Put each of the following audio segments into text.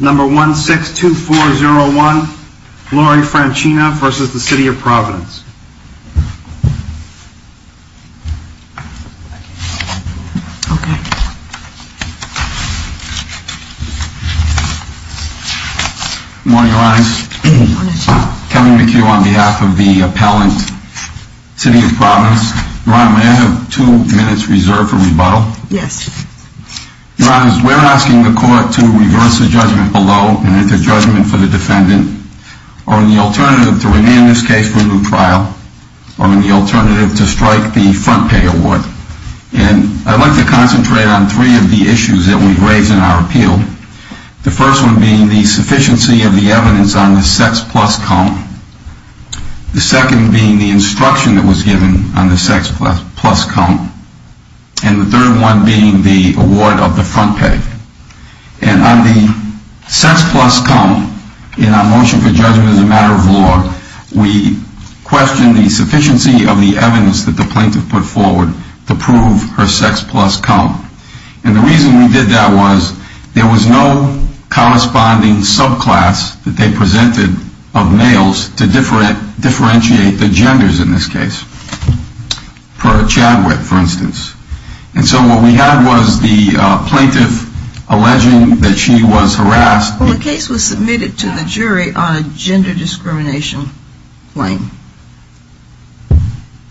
Number 162401 Lori Franchina v. City of Providence Good morning, Your Honor. Kevin McHugh on behalf of the appellant, City of Providence. Your Honor, may I have two minutes reserved for rebuttal? Yes. Your Honor, we're asking the court to reverse the judgment below and enter judgment for the defendant, or in the alternative to remand this case for a new trial, or in the alternative to strike the front pay award. And I'd like to concentrate on three of the issues that we've raised in our appeal. The first one being the sufficiency of the evidence on the sex plus count. The second being the instruction that was given on the sex plus count. And the third one being the award of the front pay. And on the sex plus count in our motion for judgment as a matter of law, we questioned the sufficiency of the evidence that the plaintiff put forward to prove her sex plus count. And the reason we did that was there was no corresponding subclass that they presented of males to differentiate the genders in this case, per Chadwick, for instance. And so what we had was the plaintiff alleging that she was harassed. Well, the case was submitted to the jury on a gender discrimination claim.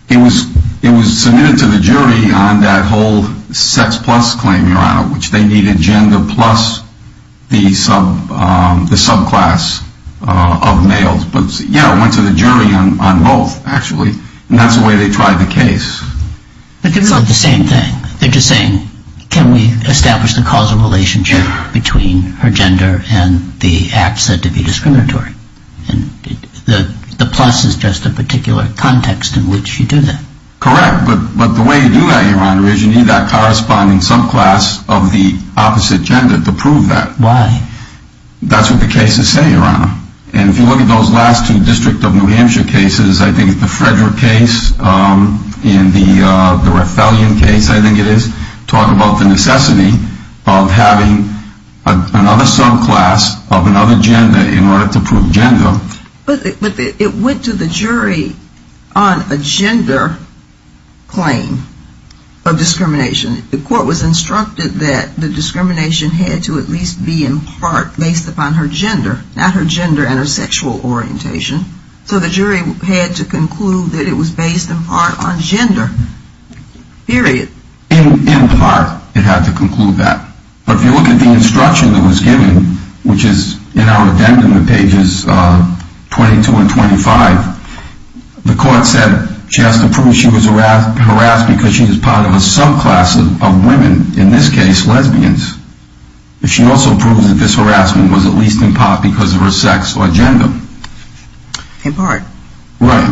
It was submitted to the jury on that whole sex plus claim, Your Honor, which they needed gender plus the subclass of males. But, yeah, it went to the jury on both, actually. And that's the way they tried the case. But they're doing the same thing. They're just saying, can we establish the causal relationship between her gender and the act said to be discriminatory? And the plus is just a particular context in which you do that. Correct. But the way you do that, Your Honor, is you need that corresponding subclass of the opposite gender to prove that. Why? That's what the cases say, Your Honor. And if you look at those last two District of New Hampshire cases, I think the Frederick case and the Rathallion case, I think it is, talk about the necessity of having another subclass of another gender in order to prove gender. But it went to the jury on a gender claim of discrimination. The court was instructed that the discrimination had to at least be in part based upon her gender, not her gender and her sexual orientation. So the jury had to conclude that it was based in part on gender, period. In part, it had to conclude that. But if you look at the instruction that was given, which is in our addendum to pages 22 and 25, the court said she has to prove she was harassed because she was part of a subclass of women, in this case lesbians. She also proved that this harassment was at least in part because of her sex or gender. In part. Right.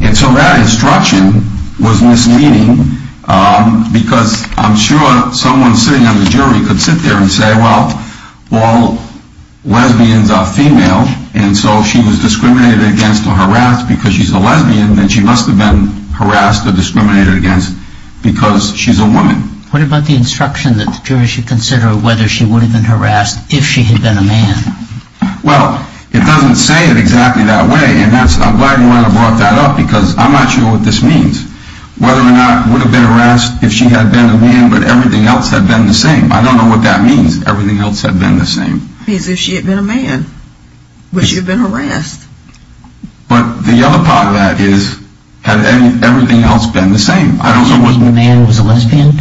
And so that instruction was misleading because I'm sure someone sitting on the jury could sit there and say, well, all lesbians are female and so she was discriminated against or harassed because she's a lesbian and she must have been harassed or discriminated against because she's a woman. What about the instruction that the jury should consider whether she would have been harassed if she had been a man? Well, it doesn't say it exactly that way. And I'm glad you brought that up because I'm not sure what this means. Whether or not it would have been harassed if she had been a man but everything else had been the same. I don't know what that means, everything else had been the same. It means if she had been a man, would she have been harassed? But the other part of that is, had everything else been the same? Are you saying the man was a lesbian?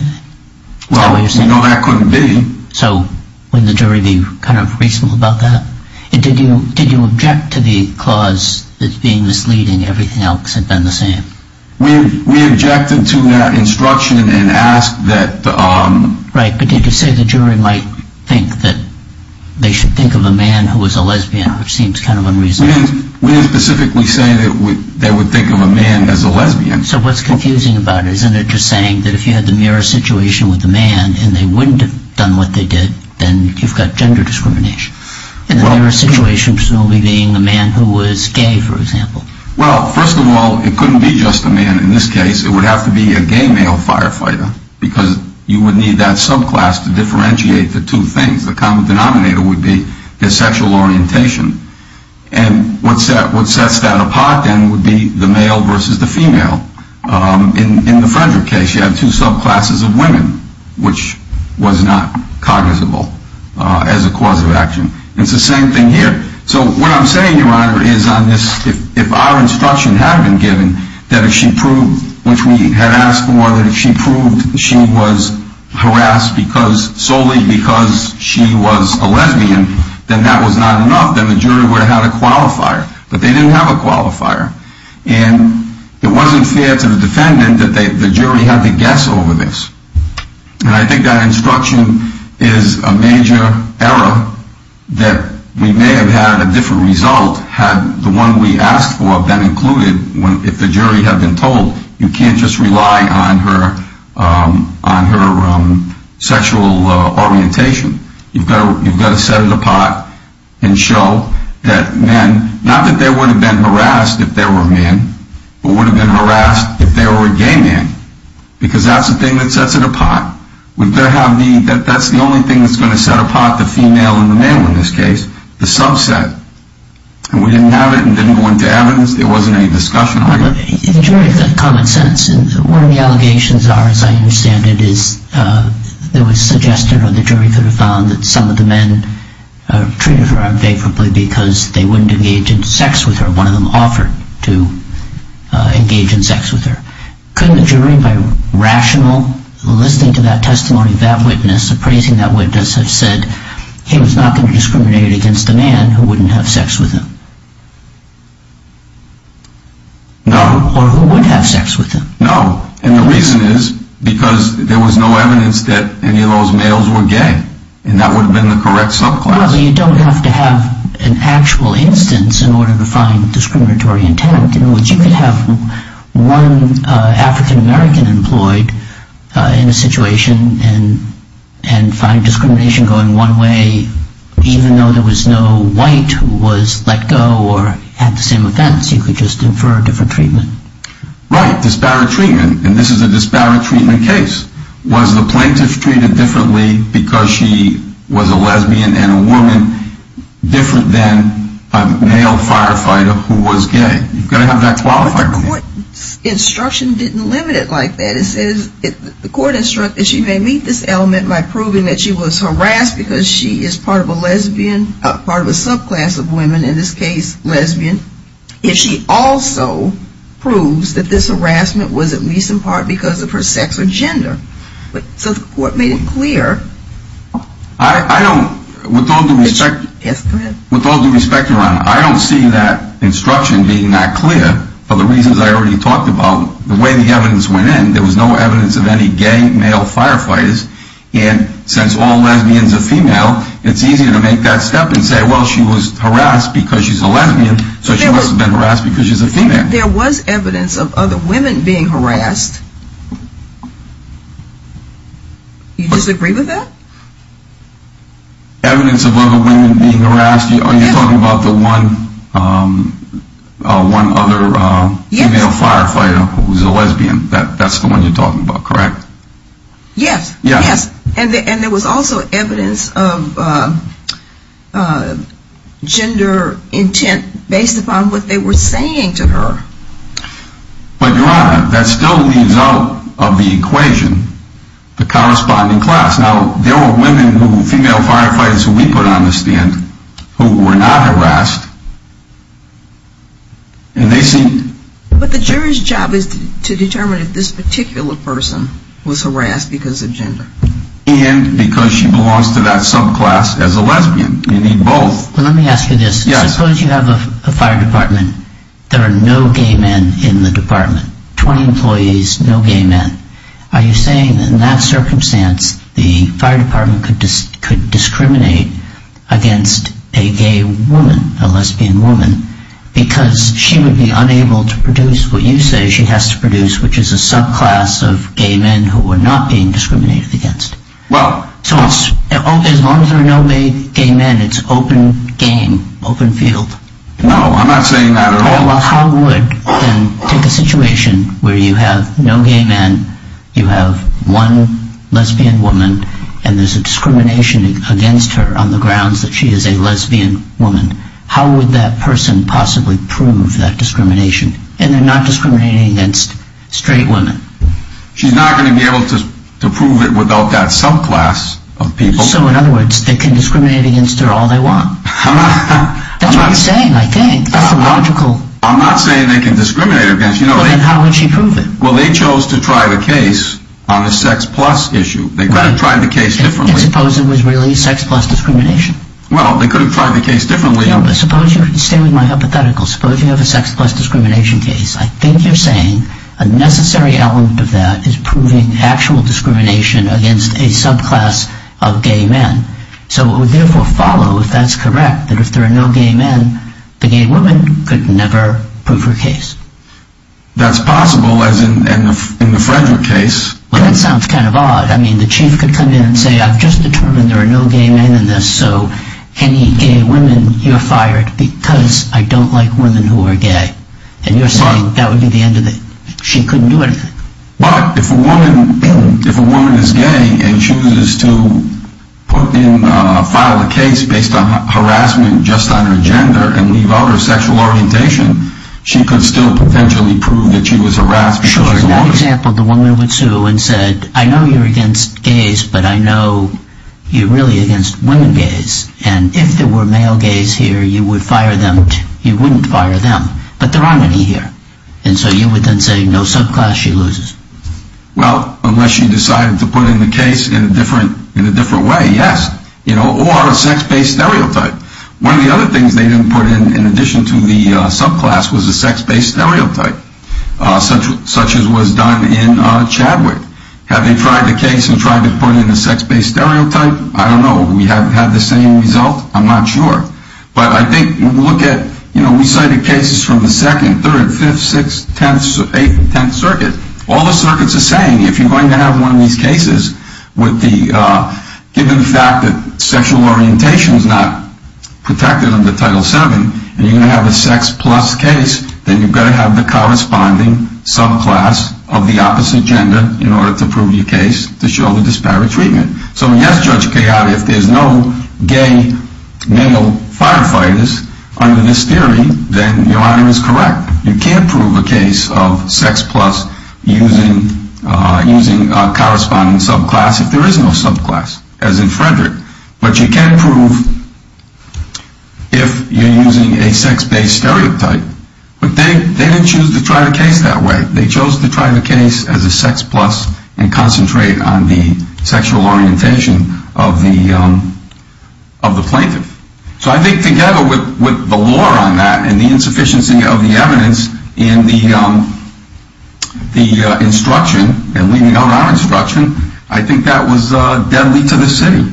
Well, no, that couldn't be. So wouldn't the jury be kind of reasonable about that? Did you object to the clause that being misleading, everything else had been the same? We objected to that instruction and asked that... Right, but did you say the jury might think that they should think of a man who was a lesbian, which seems kind of unreasonable. We didn't specifically say that they would think of a man as a lesbian. So what's confusing about it, isn't it just saying that if you had the mirror situation with a man and they wouldn't have done what they did, then you've got gender discrimination. And then there are situations involving a man who was gay, for example. Well, first of all, it couldn't be just a man in this case. It would have to be a gay male firefighter because you would need that subclass to differentiate the two things. The common denominator would be their sexual orientation. And what sets that apart then would be the male versus the female. In the Frederick case, you have two subclasses of women, which was not cognizable as a cause of action. It's the same thing here. So what I'm saying, Your Honor, is on this, if our instruction had been given that if she proved, which we had asked for, that if she proved she was harassed solely because she was a lesbian, then that was not enough, then the jury would have had a qualifier. But they didn't have a qualifier. And it wasn't fair to the defendant that the jury had to guess over this. And I think that instruction is a major error that we may have had a different result had the one we asked for been included. If the jury had been told, you can't just rely on her sexual orientation. You've got to set it apart and show that men, not that they would have been harassed if they were men, but would have been harassed if they were a gay man because that's the thing that sets it apart. That's the only thing that's going to set apart the female and the male in this case, the subset. And we didn't have it and didn't go into evidence. There wasn't any discussion on it. The jury had common sense, and one of the allegations are, as I understand it, is there was suggestion or the jury could have found that some of the men treated her unfavorably because they wouldn't engage in sex with her. One of them offered to engage in sex with her. Couldn't the jury, by rational, listening to that testimony, that witness, appraising that witness, have said he was not going to discriminate against a man who wouldn't have sex with him? No. Or who would have sex with him? No, and the reason is because there was no evidence that any of those males were gay, and that would have been the correct subclass. Well, you don't have to have an actual instance in order to find discriminatory intent in which you could have one African American employed in a situation and find discrimination going one way even though there was no white who was let go or had the same offense. You could just infer a different treatment. Right, disparate treatment, and this is a disparate treatment case. Was the plaintiff treated differently because she was a lesbian and a woman different than a male firefighter who was gay? You've got to have that qualifier. But the court instruction didn't limit it like that. The court instructed she may meet this element by proving that she was harassed because she is part of a lesbian, part of a subclass of women, in this case lesbian, if she also proves that this harassment was at least in part because of her sex or gender. So the court made it clear. I don't, with all due respect, Your Honor, I don't see that instruction being that clear for the reasons I already talked about. The way the evidence went in, there was no evidence of any gay male firefighters, and since all lesbians are female, it's easier to make that step and say, well, she was harassed because she's a lesbian, so she must have been harassed because she's a female. There was evidence of other women being harassed. You disagree with that? Evidence of other women being harassed? Are you talking about the one other female firefighter who's a lesbian? That's the one you're talking about, correct? Yes. Yes. And there was also evidence of gender intent based upon what they were saying to her. But, Your Honor, that still leaves out of the equation the corresponding class. Now, there were women who, female firefighters who we put on the stand, who were not harassed, and they seemed... But the jury's job is to determine if this particular person was harassed because of gender. And because she belongs to that subclass as a lesbian. You need both. Well, let me ask you this. Yes. Suppose you have a fire department, there are no gay men in the department, 20 employees, no gay men. Are you saying that in that circumstance, the fire department could discriminate against a gay woman, a lesbian woman, because she would be unable to produce what you say she has to produce, which is a subclass of gay men who are not being discriminated against? Well... So as long as there are no gay men, it's open game, open field? No, I'm not saying that at all. Well, how would, then, take a situation where you have no gay men, you have one lesbian woman, and there's a discrimination against her on the grounds that she is a lesbian woman. How would that person possibly prove that discrimination? And they're not discriminating against straight women. She's not going to be able to prove it without that subclass of people. So, in other words, they can discriminate against her all they want. That's what I'm saying, I think. That's the logical... I'm not saying they can discriminate against... Then how would she prove it? Well, they chose to try the case on a sex-plus issue. They could have tried the case differently. And suppose it was really sex-plus discrimination? Well, they could have tried the case differently. Stay with my hypothetical. Suppose you have a sex-plus discrimination case. I think you're saying a necessary element of that is proving actual discrimination against a subclass of gay men. So it would therefore follow, if that's correct, that if there are no gay men, the gay woman could never prove her case. That's possible, as in the Frederick case. Well, that sounds kind of odd. I mean, the chief could come in and say, I've just determined there are no gay men in this, so any gay women, you're fired because I don't like women who are gay. And you're saying that would be the end of it. She couldn't do anything. But if a woman is gay and chooses to file a case based on harassment just on her gender and leave out her sexual orientation, she could still potentially prove that she was harassed because she's a woman. So in that example, the woman would sue and say, I know you're against gays, but I know you're really against women gays. And if there were male gays here, you wouldn't fire them. But there aren't any here. And so you would then say, no subclass, she loses. Well, unless she decided to put in the case in a different way, yes. Or a sex-based stereotype. One of the other things they didn't put in, in addition to the subclass, was a sex-based stereotype, such as was done in Chadwick. Have they tried the case and tried to put in a sex-based stereotype? I don't know. Have we had the same result? I'm not sure. We cited cases from the second, third, fifth, sixth, eighth, and tenth circuits. All the circuits are saying, if you're going to have one of these cases, given the fact that sexual orientation is not protected under Title VII, and you're going to have a sex-plus case, then you've got to have the corresponding subclass of the opposite gender in order to prove your case, to show the disparate treatment. So, yes, Judge Kayaba, if there's no gay male firefighters under this theory, then your argument is correct. You can't prove a case of sex-plus using a corresponding subclass if there is no subclass, as in Frederick. But you can prove if you're using a sex-based stereotype. But they didn't choose to try the case that way. They chose to try the case as a sex-plus and concentrate on the sexual orientation of the plaintiff. So I think, together with the lore on that and the insufficiency of the evidence in the instruction, and leaving out our instruction, I think that was deadly to the city.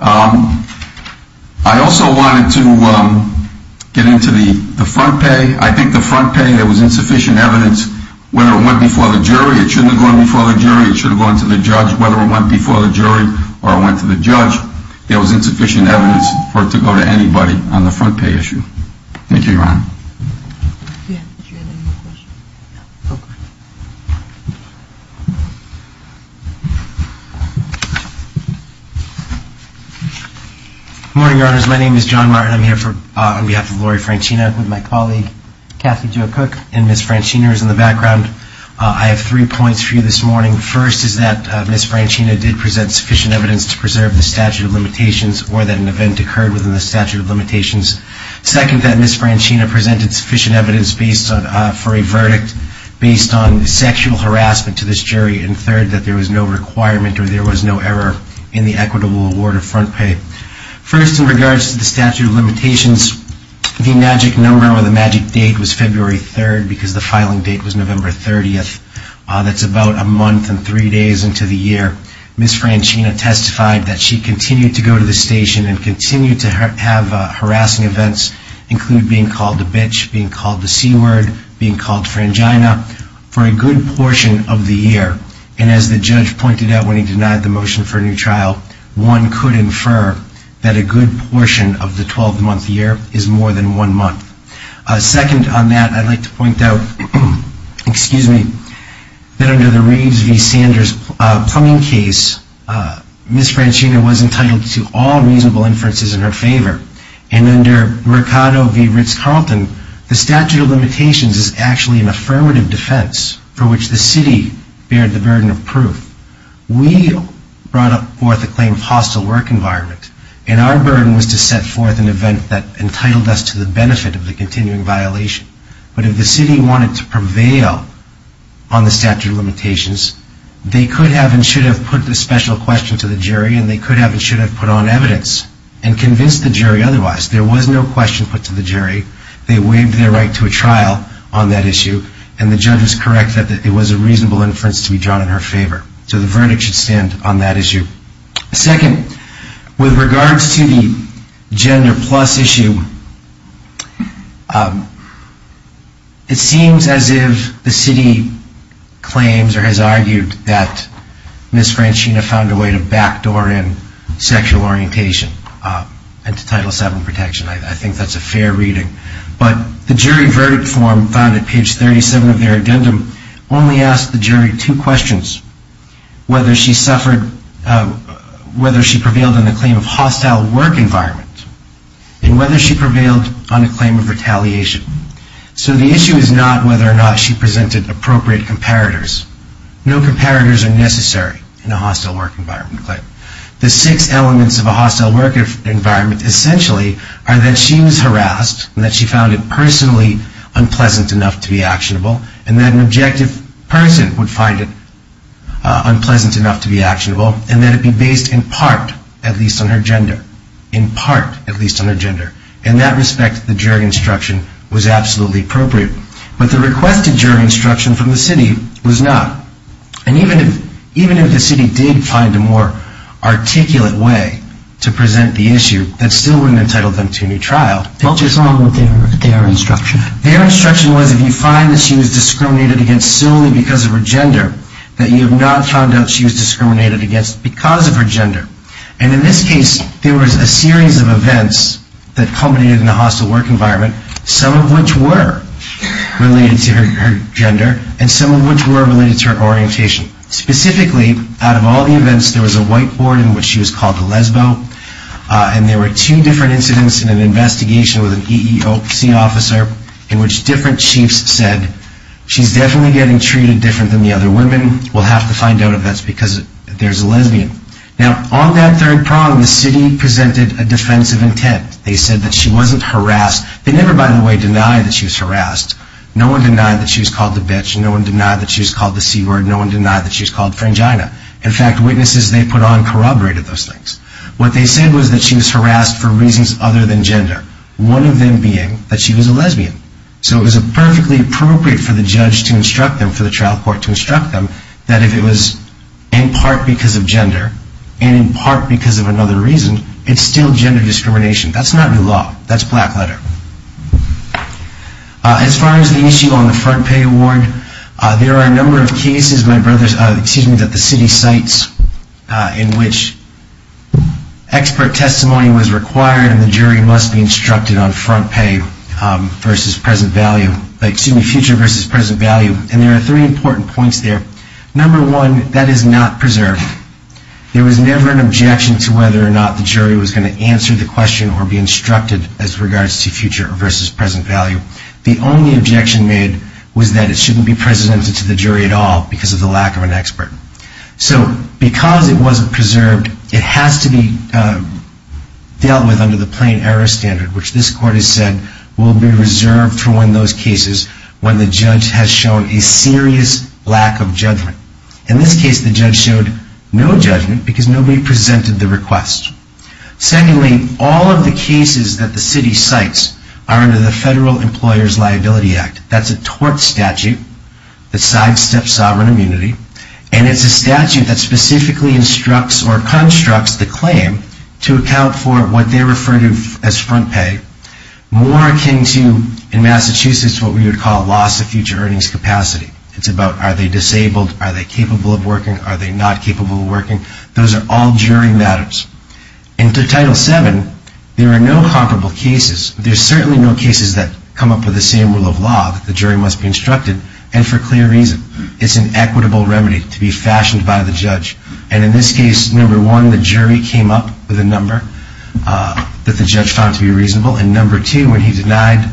I also wanted to get into the front pay. I think the front pay, there was insufficient evidence whether it went before the jury. It shouldn't have gone before the jury. It should have gone to the judge. Whether it went before the jury or it went to the judge, there was insufficient evidence for it to go to anybody on the front pay issue. Thank you, Your Honor. Good morning, Your Honors. My name is John Martin. I'm here on behalf of Lori Franchina with my colleague Kathy Jo Cook. And Ms. Franchina is in the background. I have three points for you this morning. First is that Ms. Franchina did present sufficient evidence to preserve the statute of limitations or that an event occurred within the statute of limitations. Second, that Ms. Franchina presented sufficient evidence for a verdict based on sexual harassment to this jury. And third, that there was no requirement or there was no error in the equitable award of front pay. First, in regards to the statute of limitations, the magic number or the magic date was February 3rd because the filing date was November 30th. That's about a month and three days into the year. Ms. Franchina testified that she continued to go to the station and continued to have harassing events, including being called a bitch, being called the C-word, being called Frangina, for a good portion of the year. And as the judge pointed out when he denied the motion for a new trial, one could infer that a good portion of the 12-month year is more than one month. Second on that, I'd like to point out that under the Reeves v. Sanders plumbing case, Ms. Franchina was entitled to all reasonable inferences in her favor. And under Mercado v. Ritz-Carlton, the statute of limitations is actually an affirmative defense for which the city bared the burden of proof. We brought forth a claim of hostile work environment, and our burden was to set forth an event that entitled us to the benefit of the continuing violation. But if the city wanted to prevail on the statute of limitations, they could have and should have put the special question to the jury, and they could have and should have put on evidence and convinced the jury otherwise. There was no question put to the jury. They waived their right to a trial on that issue, and the judge was correct that it was a reasonable inference to be drawn in her favor. So the verdict should stand on that issue. Second, with regards to the gender plus issue, it seems as if the city claims or has argued that Ms. Franchina found a way to backdoor in sexual orientation and to Title VII protection. I think that's a fair reading. But the jury verdict form found at page 37 of their addendum only asked the jury two questions, whether she prevailed on the claim of hostile work environment and whether she prevailed on a claim of retaliation. So the issue is not whether or not she presented appropriate comparators. No comparators are necessary in a hostile work environment claim. The six elements of a hostile work environment essentially are that she was harassed and that she found it personally unpleasant enough to be actionable, and that an objective person would find it unpleasant enough to be actionable, and that it be based in part at least on her gender, in part at least on her gender. In that respect, the jury instruction was absolutely appropriate. But the requested jury instruction from the city was not. And even if the city did find a more articulate way to present the issue, that still wouldn't entitle them to a new trial. What was wrong with their instruction? Their instruction was if you find that she was discriminated against solely because of her gender, that you have not found out she was discriminated against because of her gender. And in this case, there was a series of events that culminated in a hostile work environment, some of which were related to her gender, and some of which were related to her orientation. Specifically, out of all the events, there was a whiteboard in which she was called a lesbo, and there were two different incidents in an investigation with an EEOC officer in which different chiefs said, she's definitely getting treated different than the other women, we'll have to find out if that's because there's a lesbian. Now, on that third prong, the city presented a defensive intent. They said that she wasn't harassed. They never, by the way, denied that she was harassed. No one denied that she was called a bitch. No one denied that she was called the c-word. No one denied that she was called frangina. In fact, witnesses they put on corroborated those things. What they said was that she was harassed for reasons other than gender, one of them being that she was a lesbian. So it was perfectly appropriate for the judge to instruct them, for the trial court to instruct them, that if it was in part because of gender, and in part because of another reason, it's still gender discrimination. That's not new law. That's black letter. As far as the issue on the front pay award, there are a number of cases, my brothers, excuse me, that the city cites in which expert testimony was required and the jury must be instructed on front pay versus present value, excuse me, future versus present value, and there are three important points there. Number one, that is not preserved. There was never an objection to whether or not the jury was going to answer the question or be instructed as regards to future versus present value. The only objection made was that it shouldn't be presented to the jury at all because of the lack of an expert. So because it wasn't preserved, it has to be dealt with under the plain error standard, which this court has said will be reserved for when those cases, when the judge has shown a serious lack of judgment. In this case, the judge showed no judgment because nobody presented the request. Secondly, all of the cases that the city cites are under the Federal Employer's Liability Act. That's a tort statute that sidesteps sovereign immunity, and it's a statute that specifically instructs or constructs the claim to account for what they refer to as front pay, more akin to, in Massachusetts, what we would call loss of future earnings capacity. It's about are they disabled, are they capable of working, are they not capable of working. Those are all jury matters. In Title VII, there are no comparable cases. There are certainly no cases that come up with the same rule of law that the jury must be instructed and for clear reason. It's an equitable remedy to be fashioned by the judge. And in this case, number one, the jury came up with a number that the judge found to be reasonable, and number two, when he denied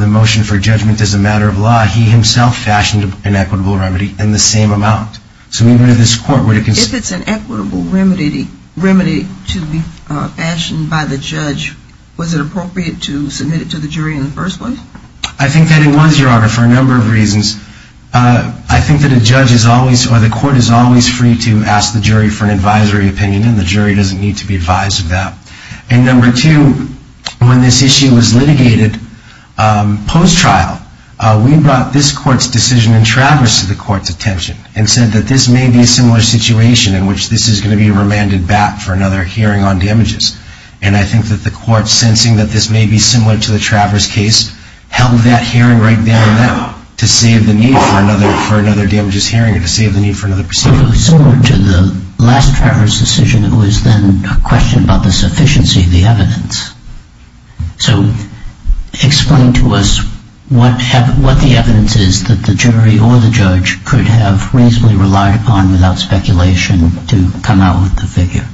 the motion for judgment as a matter of law, he himself fashioned an equitable remedy in the same amount. So even if this court were to consider... If it's an equitable remedy to be fashioned by the judge, was it appropriate to submit it to the jury in the first place? I think that it was, Your Honor, for a number of reasons. I think that a judge is always, or the court is always free to ask the jury for an advisory opinion, and the jury doesn't need to be advised of that. And number two, when this issue was litigated post-trial, we brought this court's decision in Travers to the court's attention and said that this may be a similar situation in which this is going to be remanded back for another hearing on damages. And I think that the court, sensing that this may be similar to the Travers case, held that hearing right there and now to save the need for another damages hearing and to save the need for another proceeding. It was similar to the last Travers decision. It was then a question about the sufficiency of the evidence. So explain to us what the evidence is that the jury or the judge could have reasonably relied upon without speculation to come out with the figure.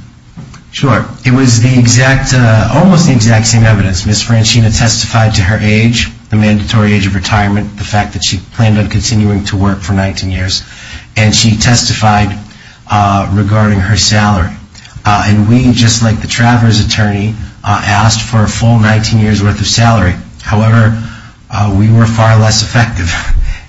Sure. It was almost the exact same evidence. Ms. Franchina testified to her age, the mandatory age of retirement, the fact that she planned on continuing to work for 19 years, and she testified regarding her salary. And we, just like the Travers attorney, asked for a full 19 years' worth of salary. However, we were far less effective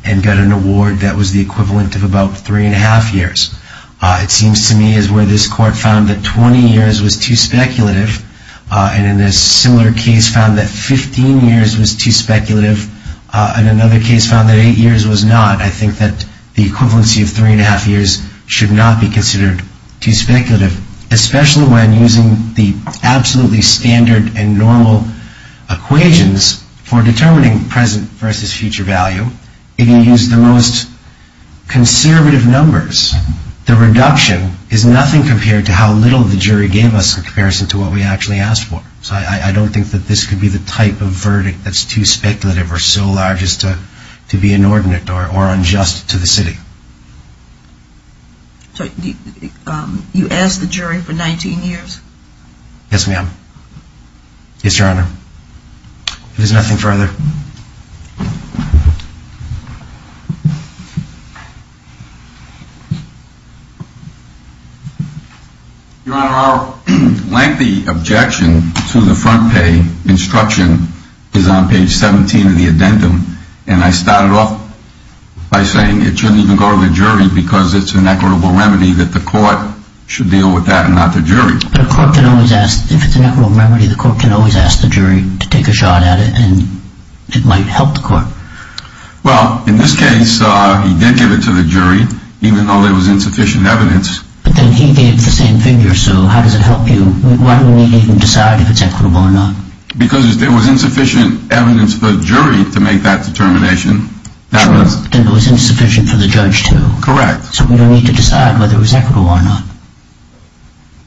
and got an award that was the equivalent of about three and a half years. It seems to me as where this court found that 20 years was too speculative and in a similar case found that 15 years was too speculative and another case found that eight years was not. I think that the equivalency of three and a half years should not be considered too speculative, especially when using the absolutely standard and normal equations for determining present versus future value. If you use the most conservative numbers, the reduction is nothing compared to how little the jury gave us in comparison to what we actually asked for. So I don't think that this could be the type of verdict that's too speculative or so large as to be inordinate or unjust to the city. So you asked the jury for 19 years? Yes, ma'am. Yes, Your Honor. If there's nothing further. Your Honor, our lengthy objection to the front pay instruction is on page 17 of the addendum and I started off by saying it shouldn't even go to the jury because it's an equitable remedy that the court should deal with that and not the jury. But a court can always ask, if it's an equitable remedy, the court can always ask the jury to take a shot at it and it might help the court. Well, in this case, he did give it to the jury, even though there was insufficient evidence. But then he gave the same figure, so how does it help you? Why do we need to even decide if it's equitable or not? Because if there was insufficient evidence for the jury to make that determination, then it was insufficient for the judge too. Correct. So we don't need to decide whether it was equitable or not.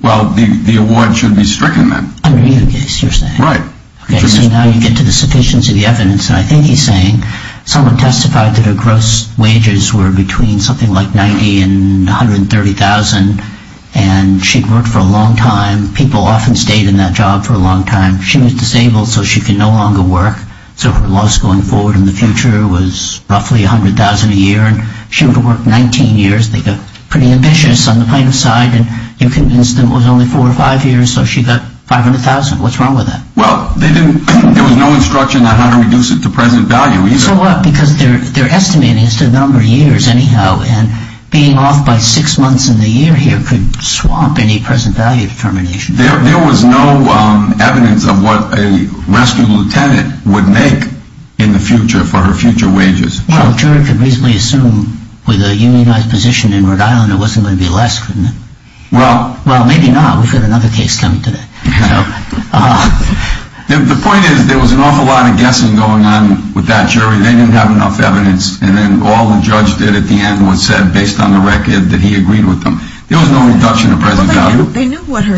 Well, the award should be stricken then. Under either case, you're saying? Right. So now you get to the sufficiency of the evidence, and I think he's saying someone testified that her gross wages were between something like $90,000 and $130,000 and she'd worked for a long time. People often stayed in that job for a long time. She was disabled, so she could no longer work. So her loss going forward in the future was roughly $100,000 a year and she would have worked 19 years. They got pretty ambitious on the plaintiff's side and you convinced them it was only four or five years, so she got $500,000. What's wrong with that? Well, there was no instruction on how to reduce it to present value either. So what? Because they're estimating it's the number of years anyhow, and being off by six months in the year here could swap any present value determination. There was no evidence of what a rescue lieutenant would make in the future for her future wages. Well, the jury could reasonably assume with a unionized position in Rhode Island it wasn't going to be less, couldn't it? Well. Well, maybe not. Well, we've got another case coming today. The point is there was an awful lot of guessing going on with that jury. They didn't have enough evidence, and then all the judge did at the end was said based on the record that he agreed with them. There was no reduction of present value. Well, they knew what her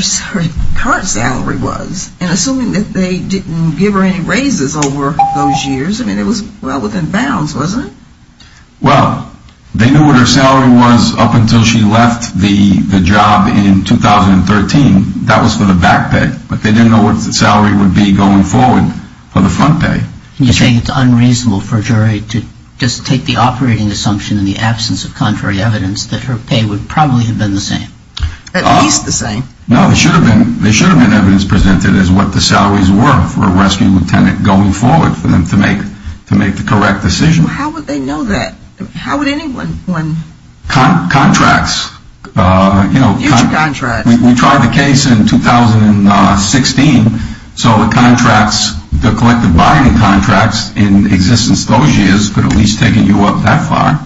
current salary was, and assuming that they didn't give her any raises over those years, I mean, it was well within bounds, wasn't it? Well, they knew what her salary was up until she left the job in 2013. That was for the back pay, but they didn't know what the salary would be going forward for the front pay. You're saying it's unreasonable for a jury to just take the operating assumption in the absence of contrary evidence that her pay would probably have been the same? At least the same. No, there should have been evidence presented as what the salaries were for a rescue lieutenant going forward for them to make the correct decision. Well, how would they know that? How would anyone? Contracts. Huge contracts. We tried the case in 2016, so the contracts, the collective bargaining contracts in existence those years could have at least taken you up that far,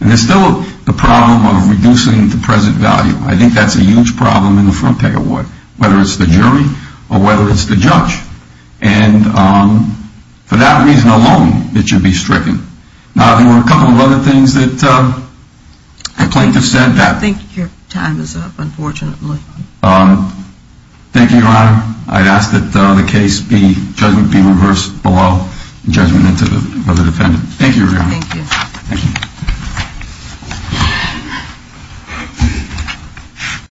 and there's still the problem of reducing the present value. I think that's a huge problem in the front pay award, whether it's the jury or whether it's the judge, and for that reason alone, it should be stricken. Now, there were a couple of other things that I plan to send back. I think your time is up, unfortunately. Thank you, Your Honor. I'd ask that the case be, judgment be reversed below the judgment of the defendant. Thank you, Your Honor. Thank you.